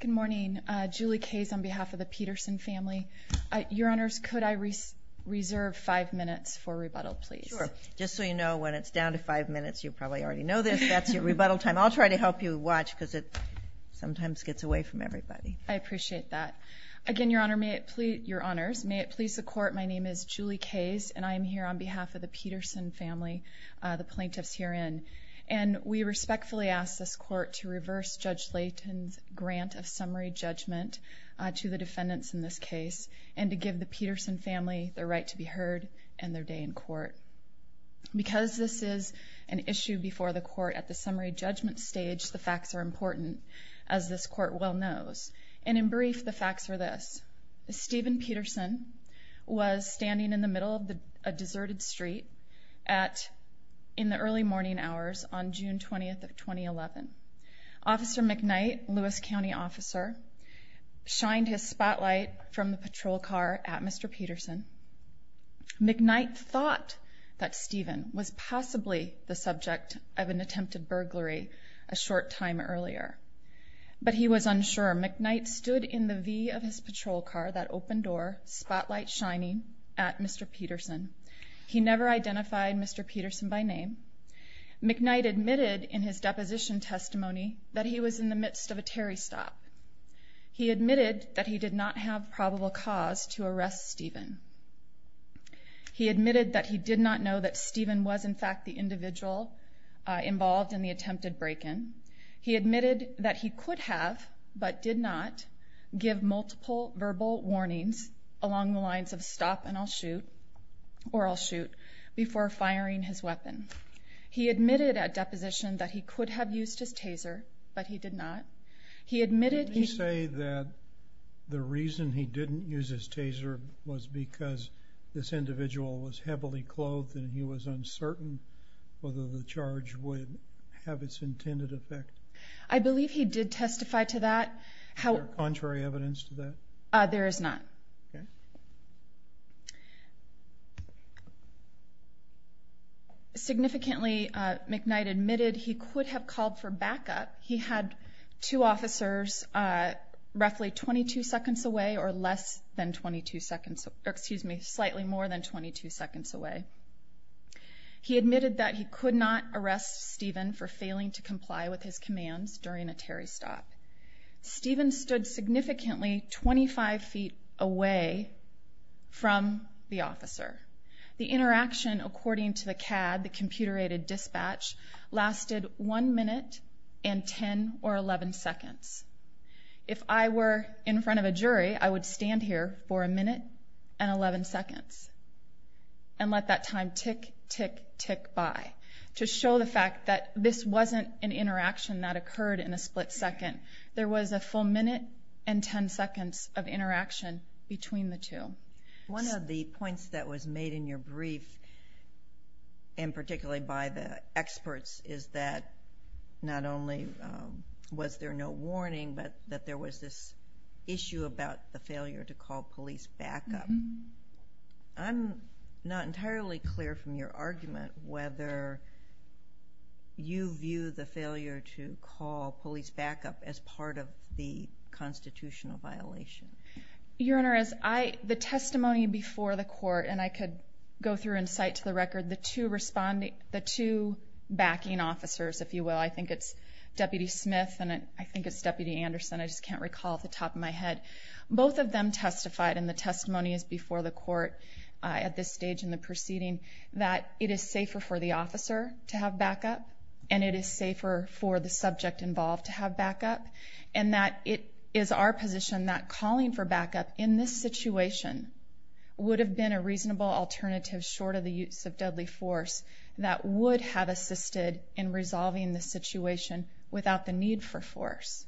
Good morning, Julie Kayes on behalf of the Petersen family. Your Honors, could I reserve five minutes for rebuttal please? Sure, just so you know when it's down to five minutes you probably already know this, that's your rebuttal time. I'll try to help you watch because it sometimes gets away from everybody. I appreciate that. Again, Your Honors, may it please the court, my name is Julie Kayes and I am here on behalf of the Petersen family, the plaintiffs herein, and we respectfully ask this court to reverse Judge Layton's grant of summary judgment to the defendants in this case and to give the Petersen family the right to be heard and their day in court. Because this is an issue before the court at the summary judgment stage, the facts are important, as this court well knows, and in brief the facts are this. Stephen Petersen was standing in the middle of a deserted street in the early morning hours on June 20th of 2011. Officer McKnight, Lewis County officer, shined his spotlight from the patrol car at Mr. Petersen. McKnight thought that Stephen was possibly the subject of an attempted burglary a short time earlier, but he was unsure. McKnight stood in the V of his patrol car, that open door, spotlight shining at Mr. Petersen. He never identified Mr. Petersen by name, McKnight admitted in his deposition testimony that he was in the midst of a Terry stop. He admitted that he did not have probable cause to arrest Stephen. He admitted that he did not know that Stephen was in fact the individual involved in the attempted break-in. He admitted that he could have, but did not, give multiple verbal warnings along the lines of stop and I'll shoot, or I'll He admitted at deposition that he could have used his taser, but he did not. He admitted he... Did he say that the reason he didn't use his taser was because this individual was heavily clothed and he was uncertain whether the charge would have its intended effect? I believe he did testify to that, how... Is there contrary Secondly, McKnight admitted he could have called for backup. He had two officers roughly 22 seconds away, or less than 22 seconds... Excuse me, slightly more than 22 seconds away. He admitted that he could not arrest Stephen for failing to comply with his commands during a Terry stop. Stephen stood significantly 25 feet away from the officer. The interaction, according to the CAD, the computer-aided dispatch, lasted one minute and 10 or 11 seconds. If I were in front of a jury, I would stand here for a minute and 11 seconds and let that time tick, tick, tick by to show the fact that this wasn't an interaction that occurred in a split second. There was a full minute and 10 seconds of interaction between the two. One of the points that was made in your brief, and particularly by the experts, is that not only was there no warning, but that there was this issue about the failure to call police backup. I'm not entirely clear from your argument whether you view the failure to call police backup as part of the constitutional violation. Your Honor, as the testimony before the court, and I could go through and cite to the record the two backing officers, if you will. I think it's Deputy Smith and I think it's Deputy Anderson. I just can't recall off the top of my head. Both of them testified, and the testimony is before the court at this stage in the proceeding, that it is safer for the officer to have backup and it is safer for the subject involved to have backup, and that it is our position that calling for backup in this situation would have been a reasonable alternative, short of the use of deadly force, that would have assisted in resolving the situation without the need for force.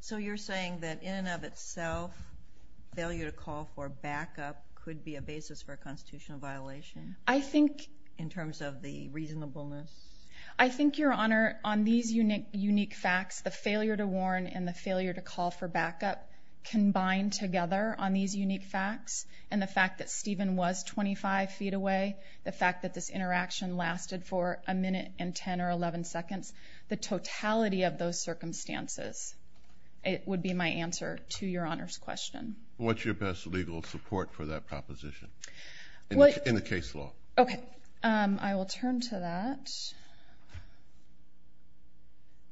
So you're saying that in and of itself, failure to call for backup could be a basis for a constitutional violation? I think. In terms of the reasonableness? I think, Your Honor, on these unique facts, the failure to warn and the failure to call for backup combined together on these unique facts, and the fact that Stephen was 25 feet away, the fact that this interaction lasted for a minute and 10 or 11 seconds, the totality of those circumstances, it would be my answer to Your Honor's question. What's your best legal support for that proposition in the case law? Okay, I will turn to that.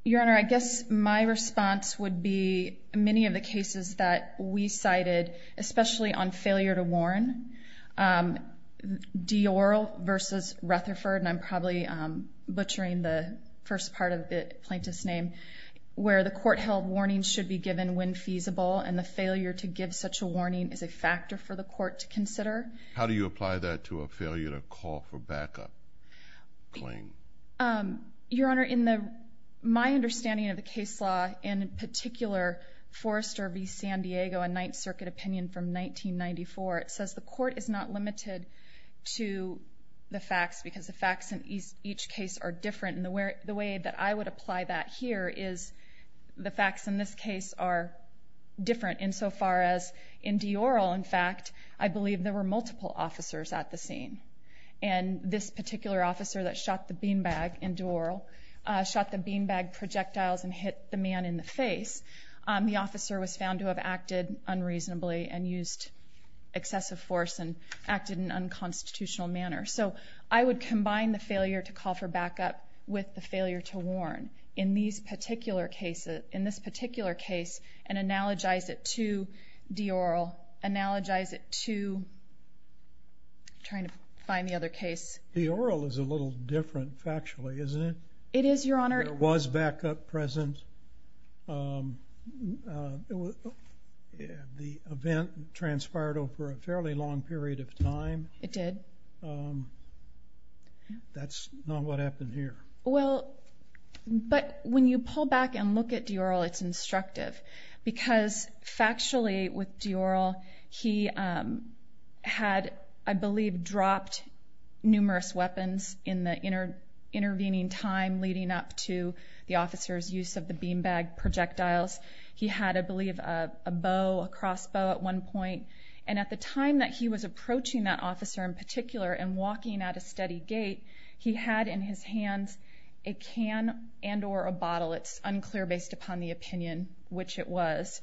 Your Honor, I guess my response would be many of the cases that we cited, especially on failure to warn, Dior versus Rutherford, and I'm probably butchering the first part of the plaintiff's name, where the court held warnings should be given when feasible, and the failure to give such a warning is a factor for the court to consider. How do you apply that to a failure to call for backup claim? Your Honor, in my understanding of the case law, in particular Forrester v. San Diego, a Ninth Circuit opinion from 1994, it says the court is not limited to the facts because the facts in each case are different, and the way that I would apply that here is the facts in this case are different insofar as in Dior, in fact, I believe there were multiple officers at the scene, and this particular officer that shot the beanbag in Dior, shot the beanbag projectiles and hit the man in the face, the officer was found to have acted unreasonably and used excessive force and acted in an unconstitutional manner. So I would combine the failure to call for backup with the failure to warn in these particular cases, in this particular case, and analogize it to Dior, analogize it to trying to find the other case. Dior is a little different factually, isn't it? It is, Your Honor. There was backup present. The event transpired over a fairly long period of time. It did. That's not what Dior, it's instructive, because factually with Dior, he had, I believe, dropped numerous weapons in the intervening time leading up to the officer's use of the beanbag projectiles. He had, I believe, a bow, a crossbow at one point, and at the time that he was approaching that officer in particular and walking at a steady gait, he had in his hands a can and or a bottle, it's unclear based upon the opinion which it was.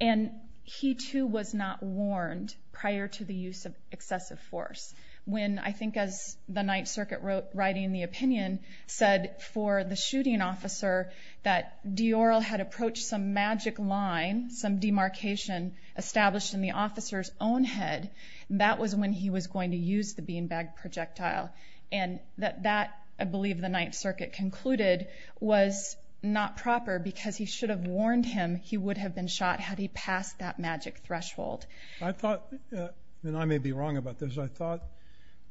And he, too, was not warned prior to the use of excessive force. When, I think as the Ninth Circuit wrote, writing the opinion, said for the shooting officer that Dior had approached some magic line, some demarcation established in the officer's own head, that was when he was going to use the beanbag projectile. And that, I believe, the Ninth Circuit concluded was not proper because he should have warned him he would have been shot had he passed that magic threshold. I thought, and I may be wrong about this, I thought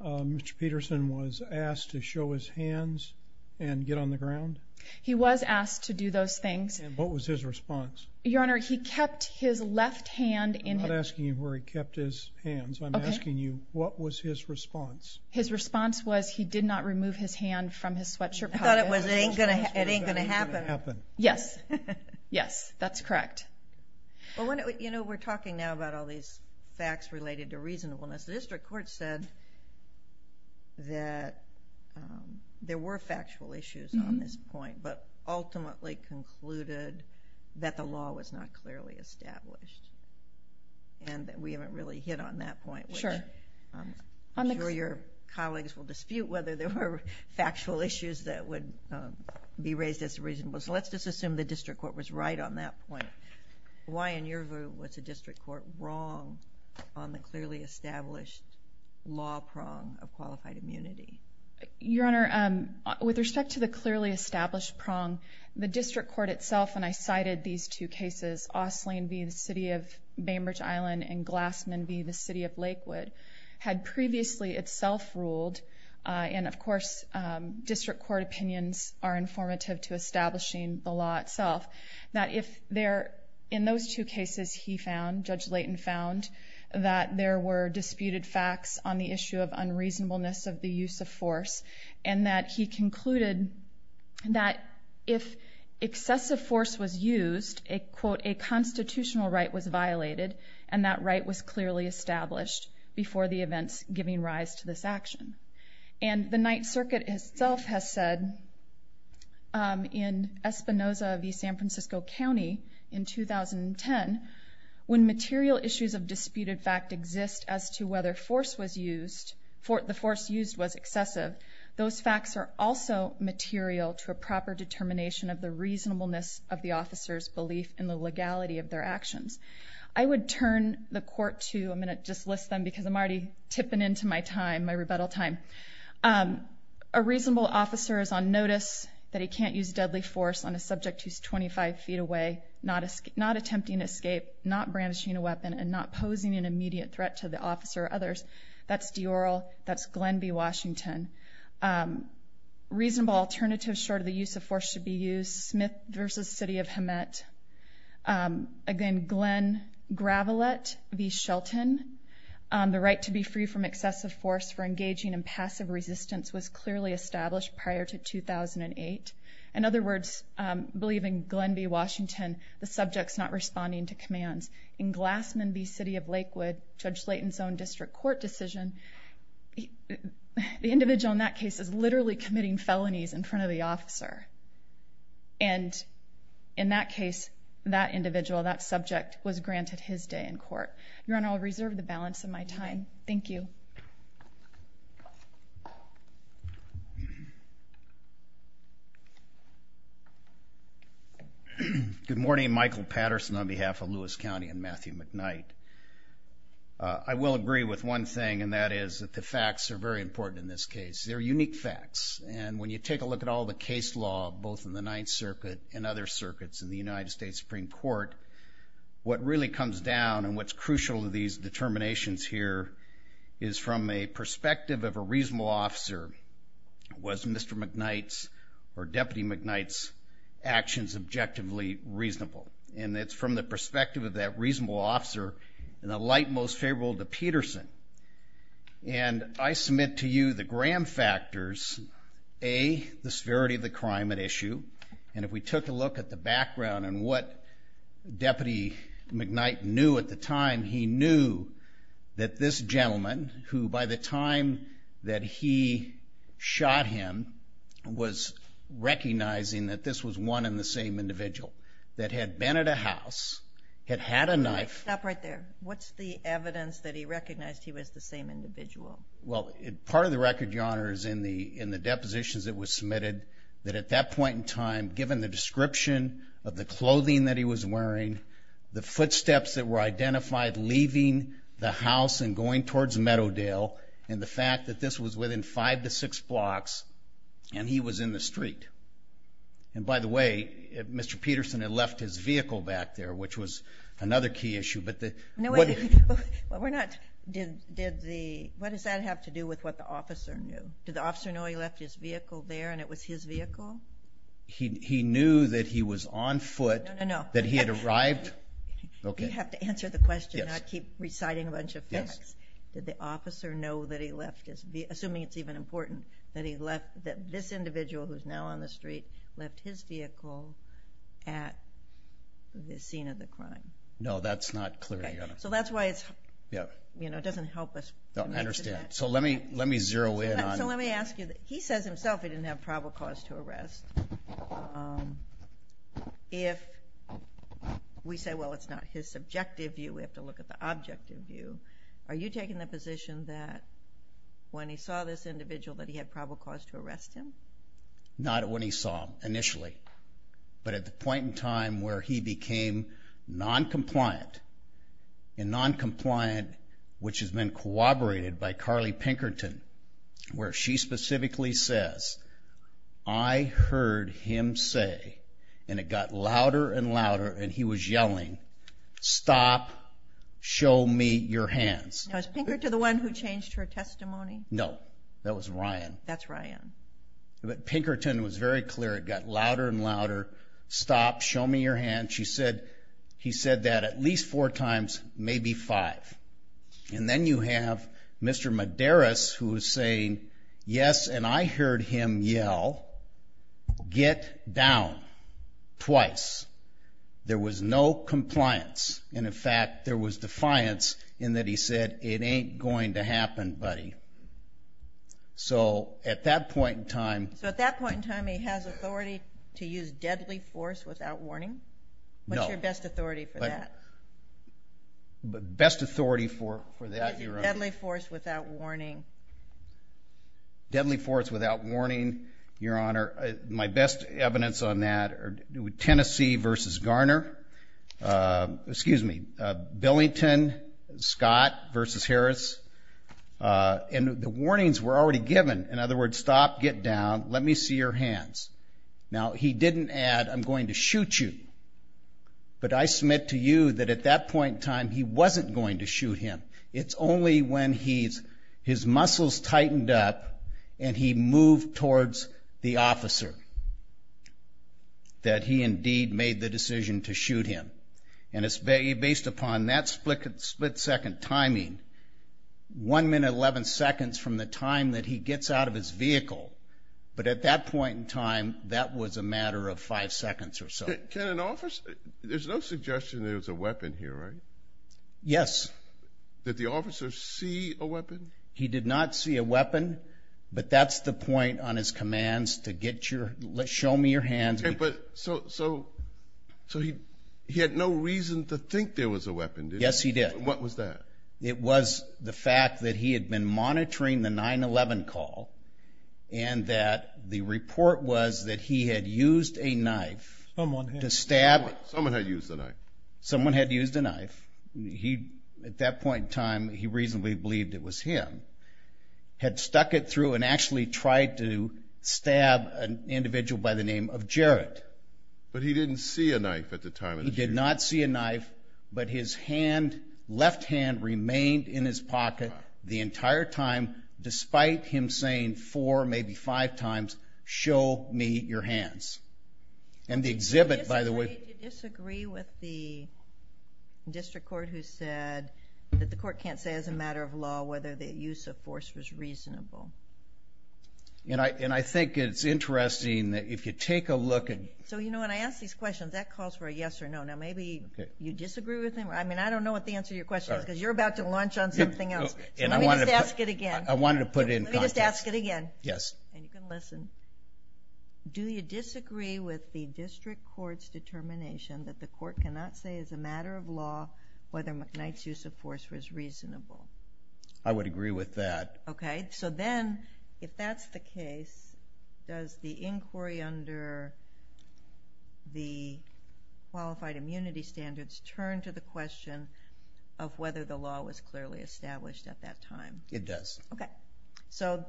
Mr. Peterson was asked to show his hands and get on the ground? He was asked to do those things. And what was his response? Your Honor, he kept his left hand in... I'm not asking you where he kept his hands, I'm asking you what was his response? His response was he did not remove his hand from his sweatshirt pocket. I thought it was going to happen. Yes. Yes, that's correct. Well, you know, we're talking now about all these facts related to reasonableness. The district court said that there were factual issues on this point, but ultimately concluded that the law was not clearly established. And that we haven't really hit on that point. Sure. I'm sure your colleagues will dispute whether there were factual issues that would be raised as reasonable. So let's just assume the district court was right on that point. Why, in your view, was the district court wrong on the clearly established law prong of qualified immunity? Your Honor, with respect to the clearly established prong, the district court itself, and I cited these two cases, Osling v. the City of Bainbridge Island and Glassman v. the City of Lakewood, had previously itself ruled, and of course district court opinions are informative to establishing the law itself, that if there, in those two cases he found, Judge Leighton found, that there were disputed facts on the issue of unreasonableness of the use of force. And that he concluded that if excessive force was used, a constitutional right was violated, and that right was clearly established before the events giving rise to this action. And the Ninth Circuit itself has said, in Espinoza v. San Francisco County in 2010, when material issues of disputed fact exist as to whether force was used, the force used was excessive, those facts are also material to a proper determination of the reasonableness of the officer's belief in the legality of their actions. I would turn the court to, I'm going to just list them because I'm already tipping into my time, my rebuttal time. A reasonable officer is on notice that he can't use deadly force on a subject who's 25 feet away, not attempting escape, not brandishing a weapon, and not posing an immediate threat to the officer or others. That's Diorl, that's Glenn v. Washington. Reasonable alternatives short of the use of force should be used, Smith v. City of Lakewood, Judge Slayton's own district court decision, the individual in that case is literally committing felonies in front of the officer. And in that case, that individual, that subject, was granted his day in court. Your Honor, I'll reserve the balance. Thank you. Good morning. Michael Patterson on behalf of Lewis County and Matthew McKnight. I will agree with one thing and that is that the facts are very important in this case. They're unique facts and when you take a look at all the case law, both in the Ninth Circuit and other circuits in the United States Supreme Court, what really comes down and what's crucial to these determinations here is from a perspective of a reasonable officer, was Mr. McKnight's or Deputy McKnight's actions objectively reasonable? And it's from the perspective of that reasonable officer and the light most favorable to Peterson. And I submit to you the gram factors, A, the severity of the crime at issue, and if we took a look at the background and what Deputy McKnight knew at the time, he knew that this gentleman, who by the time that he shot him was recognizing that this was one and the same individual, that had been at a house, had had a knife. Stop right there. What's the evidence that he recognized he was the same individual? Well, part of the record, Your Honor, is in the depositions that were submitted, that at that point in time, given the description of the clothing that he was wearing, the footsteps that were identified leaving the house and going towards Meadowdale, and the fact that this was within five to six blocks, and he was in the street. And by the way, Mr. Peterson had left his vehicle back there, which was another key issue. But the... What does that have to do with what the officer knew? Did the officer know he left his vehicle there and it was his vehicle? He knew that he was on foot. No, no, no. That he had arrived. Okay. You have to answer the question, not keep reciting a bunch of facts. Did the officer know that he left his vehicle, assuming it's even important, that he left, that this individual, who's now on the street, left his vehicle at the scene of the crime? No, that's not clear, Your Honor. So that's why it's, you know, it doesn't help us. I understand. So let me, let me zero in on... So let me ask you, he says himself he didn't have probable cause to arrest. If we say, well, it's not his subjective view, we have to look at the objective view. Are you taking the position that when he saw this individual, that he had probable cause to arrest him? Not when he saw him initially, but at the point in time where he became non-compliant, and non-compliant, which has been corroborated by Carly Pinkerton, where she specifically says, I heard him say, and it got louder and louder, and he was yelling, stop, show me your hands. Now, is Pinkerton the one who changed her testimony? No, that was Ryan. That's Ryan. But Pinkerton was very clear, it got louder and louder, stop, show me your hands. She said, he said that at least four times, maybe five. And then you have Mr. Medeiros, who is saying, yes, and I heard him yell, get down, twice. There was no compliance, and in fact, there was defiance in that he said, it ain't going to happen, buddy. So at that point in time... So at that point in time, he has authority to use deadly force without warning? No. What's your best authority for that? Best authority for that, Your Honor. Deadly force without warning. Deadly force without warning, Your Honor. My best evidence on that are Tennessee versus Garner. Excuse me, Billington, Scott versus Harris. And the warnings were already given. In other words, stop, get down, let me see your hands. Now, he didn't add, I'm going to shoot you. But I submit to you that at that point in time, he wasn't going to shoot him. It's only when his muscles tightened up and he moved towards the officer that he indeed made the decision to shoot him. And it's based upon that split second timing, one minute, 11 seconds from the time that he gets out of his vehicle. But at that point in time, that was a matter of five seconds or so. Can an officer, there's no suggestion there was a weapon here, right? Yes. Did the officer see a weapon? He did not see a weapon, but that's the point on his commands to get your, show me your hands. So he had no reason to think there was a weapon, did he? Yes, he did. What was that? It was the fact that he had been monitoring the 9-11 call and that the report was that he had used a knife to stab... Someone had used a knife. Someone had used a knife. He, at that point in time, he reasonably believed it was him, had stuck it through and actually tried to stab an individual by the name of Jared. But he didn't see a knife at the time. He did not see a knife, but his hand, left hand remained in his pocket the entire time, despite him saying four, maybe five times, show me your hands. And the exhibit, by the way... Do you disagree with the district court who said that the court can't say as a matter of law whether the use of force was reasonable? And I think it's interesting that if you take a look at... So, you know, when I ask these questions, that calls for a yes or no. Now, maybe you disagree with him. I mean, I don't know what the answer to your question is, because you're about to launch on something else. Let me just ask it again. I wanted to put it in context. Let me just ask it again. Yes. And you can listen. Do you disagree with the district court's determination that the court cannot say as a matter of law whether McKnight's use of force was reasonable? I would agree with that. Okay, so then, if that's the case, does the qualified immunity standards turn to the question of whether the law was clearly established at that time? It does. Okay, so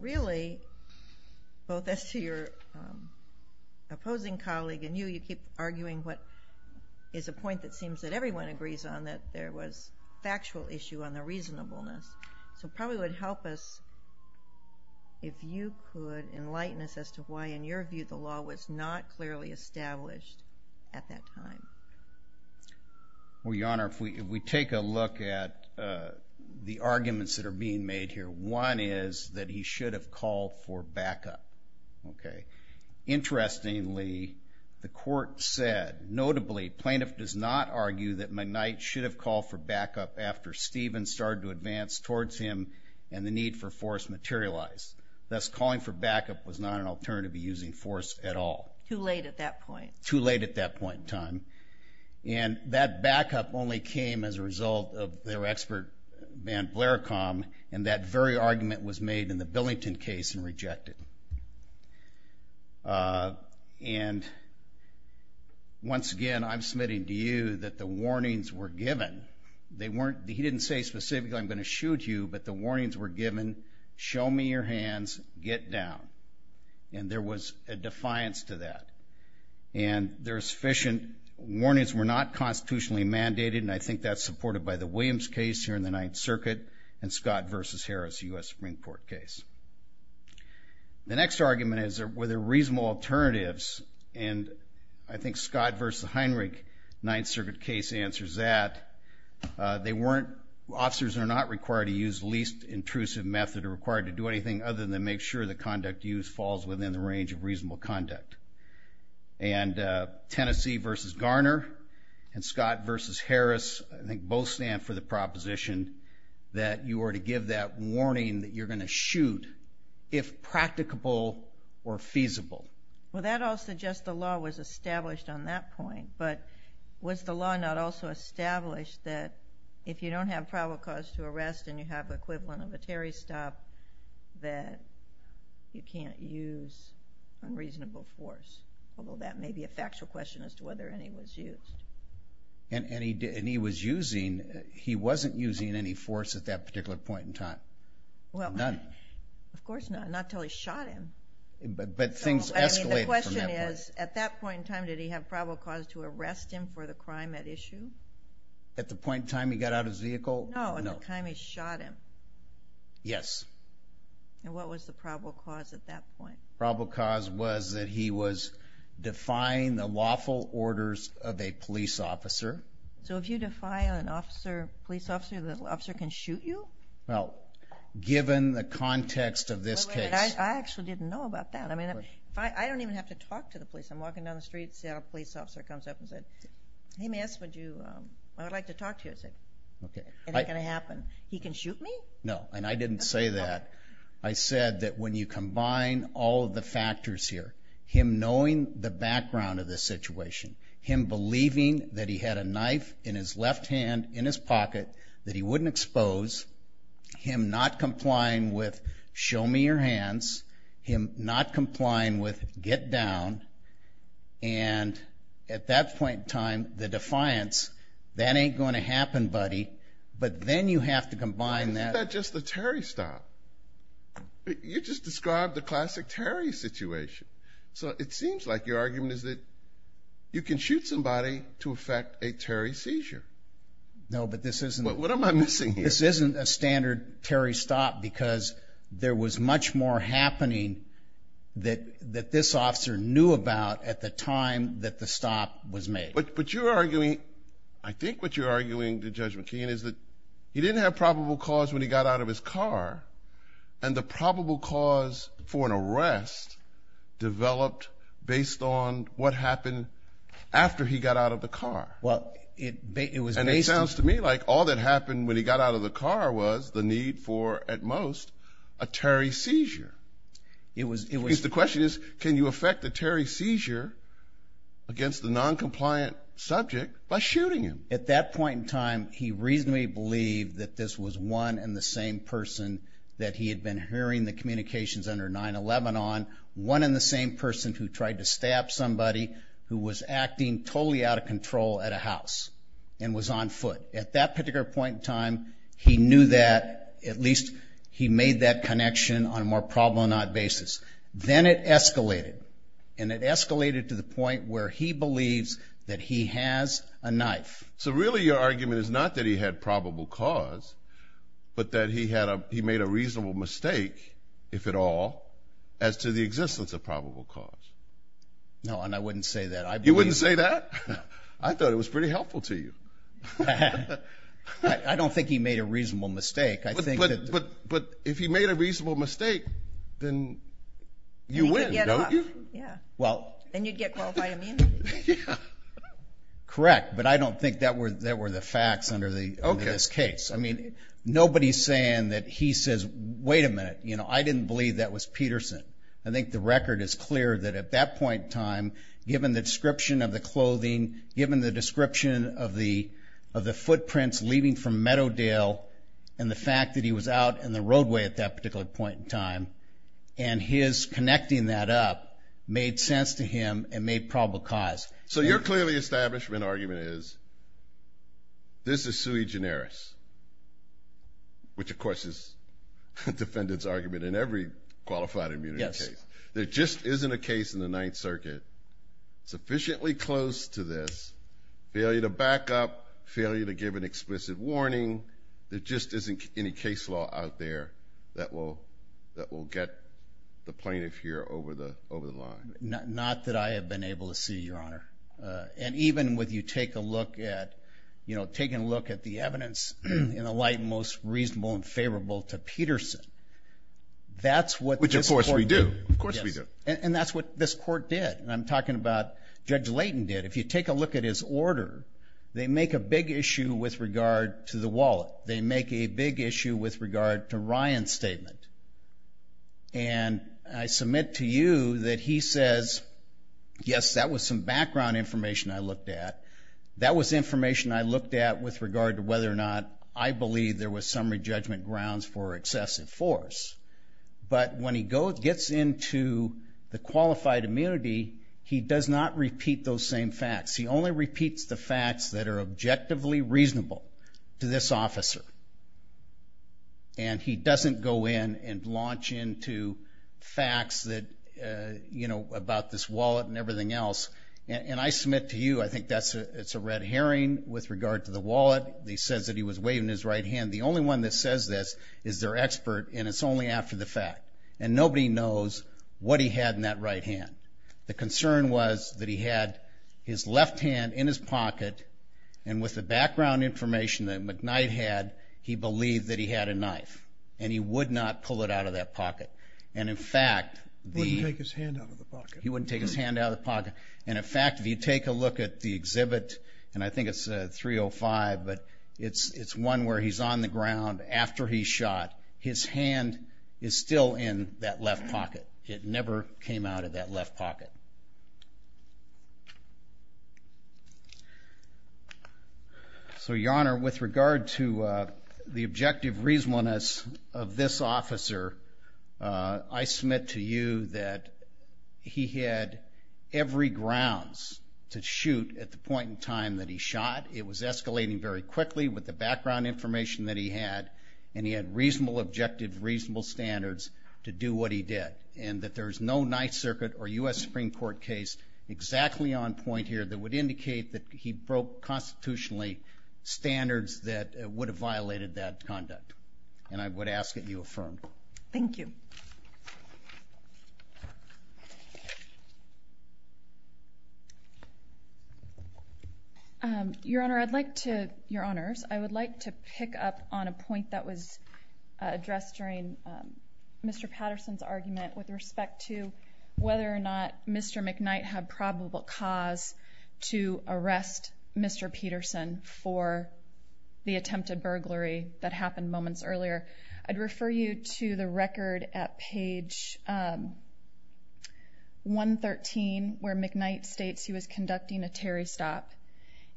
really, both as to your opposing colleague and you, you keep arguing what is a point that seems that everyone agrees on, that there was factual issue on the reasonableness. So probably would help us if you could enlighten us as to why, in your view, the court did not say at that time. Well, Your Honor, if we take a look at the arguments that are being made here, one is that he should have called for backup. Okay, interestingly, the court said, notably, plaintiff does not argue that McKnight should have called for backup after Steven started to advance towards him and the need for force materialized. Thus, calling for backup was not an argument at that point. Too late at that point in time. And that backup only came as a result of their expert, Van Blericombe, and that very argument was made in the Billington case and rejected. And once again, I'm submitting to you that the warnings were given. They weren't, he didn't say specifically, I'm going to shoot you, but the warnings were given, show me your hands, get down. And there was a defiance to that. And there are sufficient warnings were not constitutionally mandated, and I think that's supported by the Williams case here in the Ninth Circuit and Scott v. Harris, a U.S. Supreme Court case. The next argument is were there reasonable alternatives, and I think Scott v. Heinrich, Ninth Circuit case answers that. They weren't, officers are not required to use least intrusive method or required to do anything other than make sure the conduct. And Tennessee v. Garner and Scott v. Harris, I think both stand for the proposition that you are to give that warning that you're going to shoot if practicable or feasible. Well that all suggests the law was established on that point, but was the law not also established that if you don't have probable cause to arrest and you have the equivalent of a Terry stop, that you have a reasonable force? Although that may be a factual question as to whether any was used. And he was using, he wasn't using any force at that particular point in time. None. Of course not, not till he shot him. But things escalated from that point. The question is, at that point in time did he have probable cause to arrest him for the crime at issue? At the point in time he got out of his vehicle? No, at the time he shot him. Yes. And what was the probable cause at that point? Probable cause was that he was defying the lawful orders of a police officer. So if you defy an officer, police officer, the officer can shoot you? Well, given the context of this case. I actually didn't know about that. I mean, I don't even have to talk to the police. I'm walking down the street, Seattle police officer comes up and said, hey ma'am would you, I would like to talk to you. I said, okay. Is that going to happen? He can shoot me? No, and I didn't say that. I said that when you combine all of the factors here, him knowing the background of the situation, him believing that he had a knife in his left hand in his pocket that he wouldn't expose, him not complying with show me your hands, him not complying with get down, and at that point in time the defiance, that ain't going to happen buddy. But then you have to combine that. Isn't that just the Terry stop? You just described the classic Terry situation. So it seems like your argument is that you can shoot somebody to affect a Terry seizure. No, but this isn't. What am I missing here? This isn't a standard Terry stop because there was much more happening that this officer knew about at the time that the stop was made. But you're arguing, I think what you're arguing to Judge is that he got out of his car and the probable cause for an arrest developed based on what happened after he got out of the car. Well, it sounds to me like all that happened when he got out of the car was the need for, at most, a Terry seizure. The question is, can you affect the Terry seizure against the non-compliant subject by shooting him? At that point in time, he reasonably believed that this was one and the same person that he had been hearing the communications under 9-11 on. One and the same person who tried to stab somebody who was acting totally out of control at a house and was on foot. At that particular point in time, he knew that, at least he made that connection on a more problematic basis. Then it escalated and it escalated to the point where he believes that he has a knife. So really your argument is not that he had a probable cause, but that he made a reasonable mistake, if at all, as to the existence of probable cause. No, and I wouldn't say that. You wouldn't say that? I thought it was pretty helpful to you. I don't think he made a reasonable mistake. But if he made a reasonable mistake, then you win, don't you? And you'd get qualified immunity. Correct, but I don't think that were the facts under this case. I mean, nobody's saying that he says, wait a minute, you know, I didn't believe that was Peterson. I think the record is clear that at that point in time, given the description of the clothing, given the description of the footprints leaving from Meadowdale, and the fact that he was out in the roadway at that particular point in time, and his connecting that up made sense to him and made probable cause. So your clearly establishment argument is, this is sui generis, which of course is a defendant's argument in every qualified immunity case. There just isn't a case in the Ninth Circuit sufficiently close to this, failure to back up, failure to give an explicit warning, there just isn't any case law out there that will get the plaintiff here over the line. Not that I have been able to see, Your take a look at, you know, taking a look at the evidence in the light most reasonable and favorable to Peterson. That's what... Which of course we do, of course we do. And that's what this court did, and I'm talking about Judge Layton did. If you take a look at his order, they make a big issue with regard to the wallet. They make a big issue with regard to Ryan's statement. And I submit to you that he says, yes that was some background information I looked at. That was information I looked at with regard to whether or not I believe there was summary judgment grounds for excessive force. But when he gets into the qualified immunity, he does not repeat those same facts. He only repeats the facts that are objectively reasonable to this officer. And he doesn't go in and you know about this wallet and everything else. And I submit to you, I think that's a it's a red herring with regard to the wallet. He says that he was waving his right hand. The only one that says this is their expert, and it's only after the fact. And nobody knows what he had in that right hand. The concern was that he had his left hand in his pocket, and with the background information that McKnight had, he believed that he had a knife. And he would not pull it out of that pocket. And in fact, he wouldn't take his hand out of the pocket. And in fact, if you take a look at the exhibit, and I think it's a 305, but it's it's one where he's on the ground after he shot, his hand is still in that left pocket. It never came out of that left pocket. So your Honor, with regard to the objective reasonableness of this officer, I submit to you that he had every grounds to shoot at the point in time that he shot. It was escalating very quickly with the background information that he had. And he had reasonable objective, reasonable standards to do what he did. And that there's no Ninth Circuit or U.S. Supreme Court's case exactly on point here that would indicate that he broke constitutionally standards that would have violated that conduct. And I would ask that you affirm. Thank you. Your Honor, I'd like to, Your Honors, I would like to pick up on a point that was made earlier. Mr. McKnight had probable cause to arrest Mr. Peterson for the attempted burglary that happened moments earlier. I'd refer you to the record at page 113 where McKnight states he was conducting a Terry stop.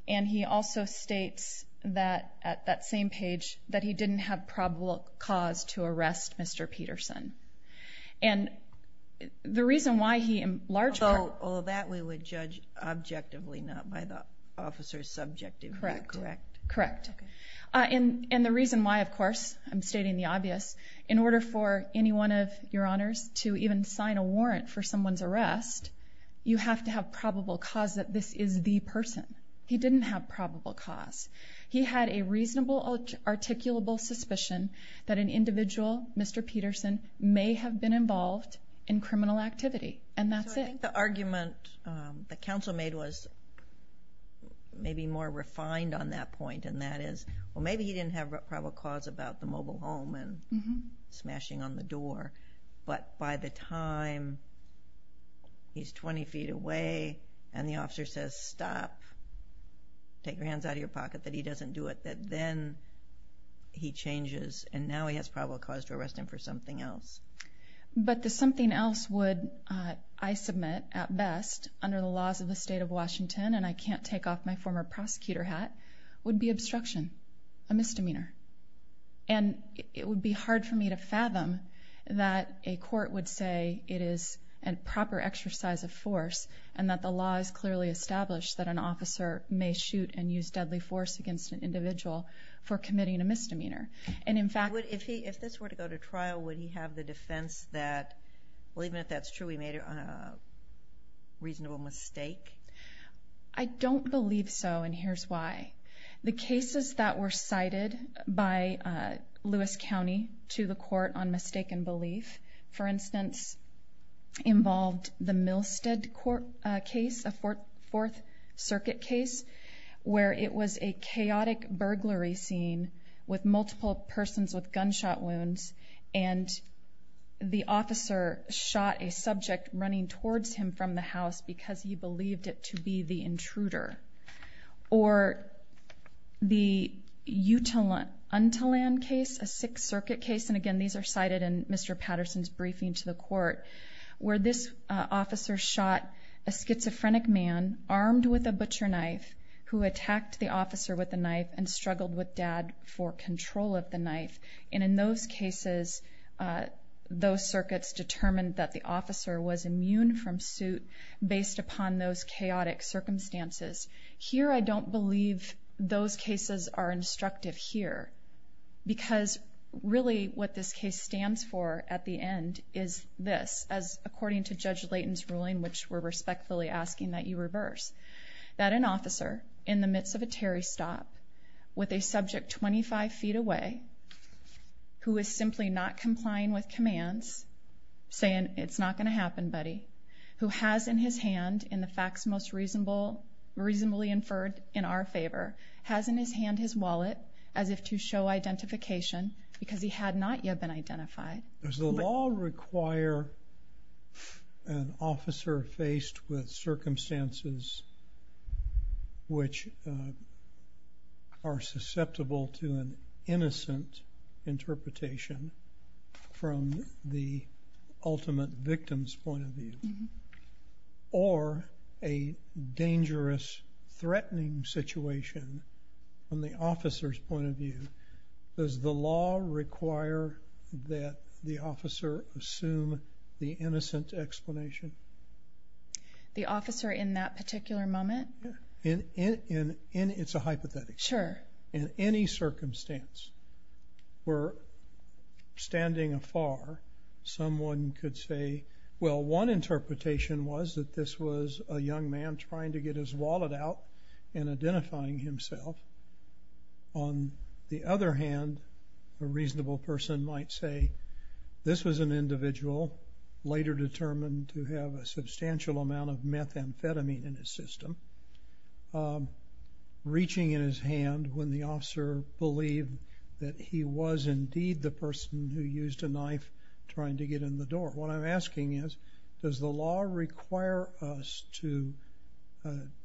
And he also states that at that same page that he didn't have probable cause to arrest Mr. Peterson. And the reason why he in large part Although that we would judge objectively, not by the officer's subjectivity. Correct. Correct. And the reason why, of course, I'm stating the obvious, in order for any one of your Honors to even sign a warrant for someone's arrest, you have to have probable cause that this is the person. He didn't have probable cause. He had a reasonable articulable suspicion that an individual, Mr. Peterson, may have been involved in criminal activity. And that's it. So I think the argument that counsel made was maybe more refined on that point. And that is, well, maybe he didn't have probable cause about the mobile home and smashing on the door. But by the time he's 20 feet away and the officer says, stop, take your hands out of your pocket, that he doesn't do it, that then he changes. And now he has probable cause to arrest him for something else. But the something else would, I submit, at best, under the laws of the state of Washington, and I can't take off my former prosecutor hat, would be obstruction, a misdemeanor. And it would be hard for me to fathom that a court would say it is a proper exercise of force and that the law is clearly established that an officer may shoot and use deadly force against an individual for committing a misdemeanor. If this were to go to trial, would he have the defense that, well, even if that's true, he made a reasonable mistake? I don't believe so, and here's why. The cases that were cited by Lewis County to the court on mistaken belief, for instance, involved the Milstead case, a Fourth Circuit case, where it was a chaotic burglary scene with multiple persons with gunshot wounds, and the officer shot a subject running towards him from the house because he believed it to be the intruder. Or the Utiland case, a Sixth Circuit case, and again, these are cited in Mr. Patterson's briefing to the court, where this officer shot a schizophrenic man armed with a butcher knife who attacked the officer with the knife and struggled with dad for control of the knife. And in those cases, those circuits determined that the officer was immune from suit based upon those chaotic circumstances. Here, I don't believe those cases are instructive here, because really what this case stands for at the end is this, as according to Judge Layton's ruling, which we're respectfully asking that you reverse. That an officer, in the midst of a Terry stop, with a subject 25 feet away, who is simply not complying with commands, saying, it's not going to happen, buddy, who has in his hand, in the facts most reasonably inferred in our favor, has in his hand his wallet, as if to show identification, because he had not yet been identified. Does the law require an officer faced with circumstances which are susceptible to an innocent interpretation from the ultimate victim's point of view, or a dangerous, threatening situation from the officer's point of view? Does the law require that the officer assume the innocent explanation? The officer in that particular moment? It's a hypothetic. Sure. In any circumstance, where standing afar, someone could say, well, one interpretation was that this was a young man trying to get his wallet out and identifying himself. On the other hand, a reasonable person might say, this was an individual, later determined to have a substantial amount of methamphetamine in his system, reaching in his hand when the officer believed that he was indeed the person who used a knife trying to get in the door. What I'm asking is, does the law require us to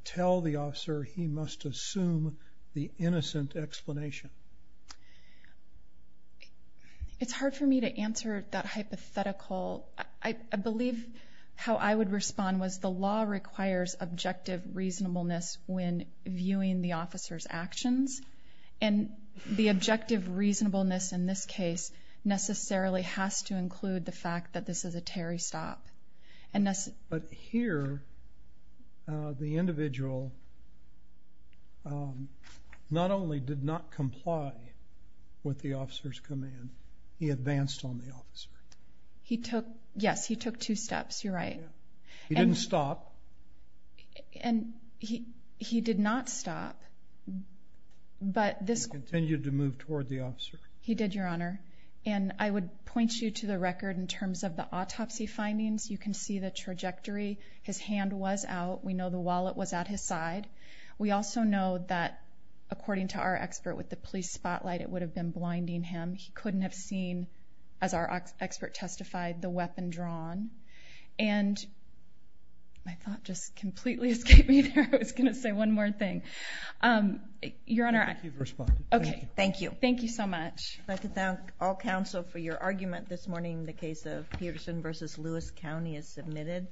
tell the officer he must assume the innocent explanation? It's hard for me to answer that hypothetical. I believe how I would respond was the law requires objective reasonableness when viewing the officer's actions. And the objective reasonableness in this case necessarily has to include the fact that this is a Terry stop. But here, the individual not only did not comply with the officer's command, he advanced on the officer. Yes, he took two steps. You're right. He didn't stop. And he did not stop. He continued to move toward the officer. He did, Your Honor. And I would point you to the record in terms of the autopsy findings. You can see the trajectory. His hand was out. We know the wallet was at his side. We also know that, according to our expert with the police spotlight, it would have been blinding him. He couldn't have seen, as our expert testified, the weapon drawn. And my thought just completely escaped me there. I was going to say one more thing. Your Honor. Okay. Thank you. Thank you so much. I'd like to thank all counsel for your argument this morning. The case of Peterson v. Lewis County is submitted.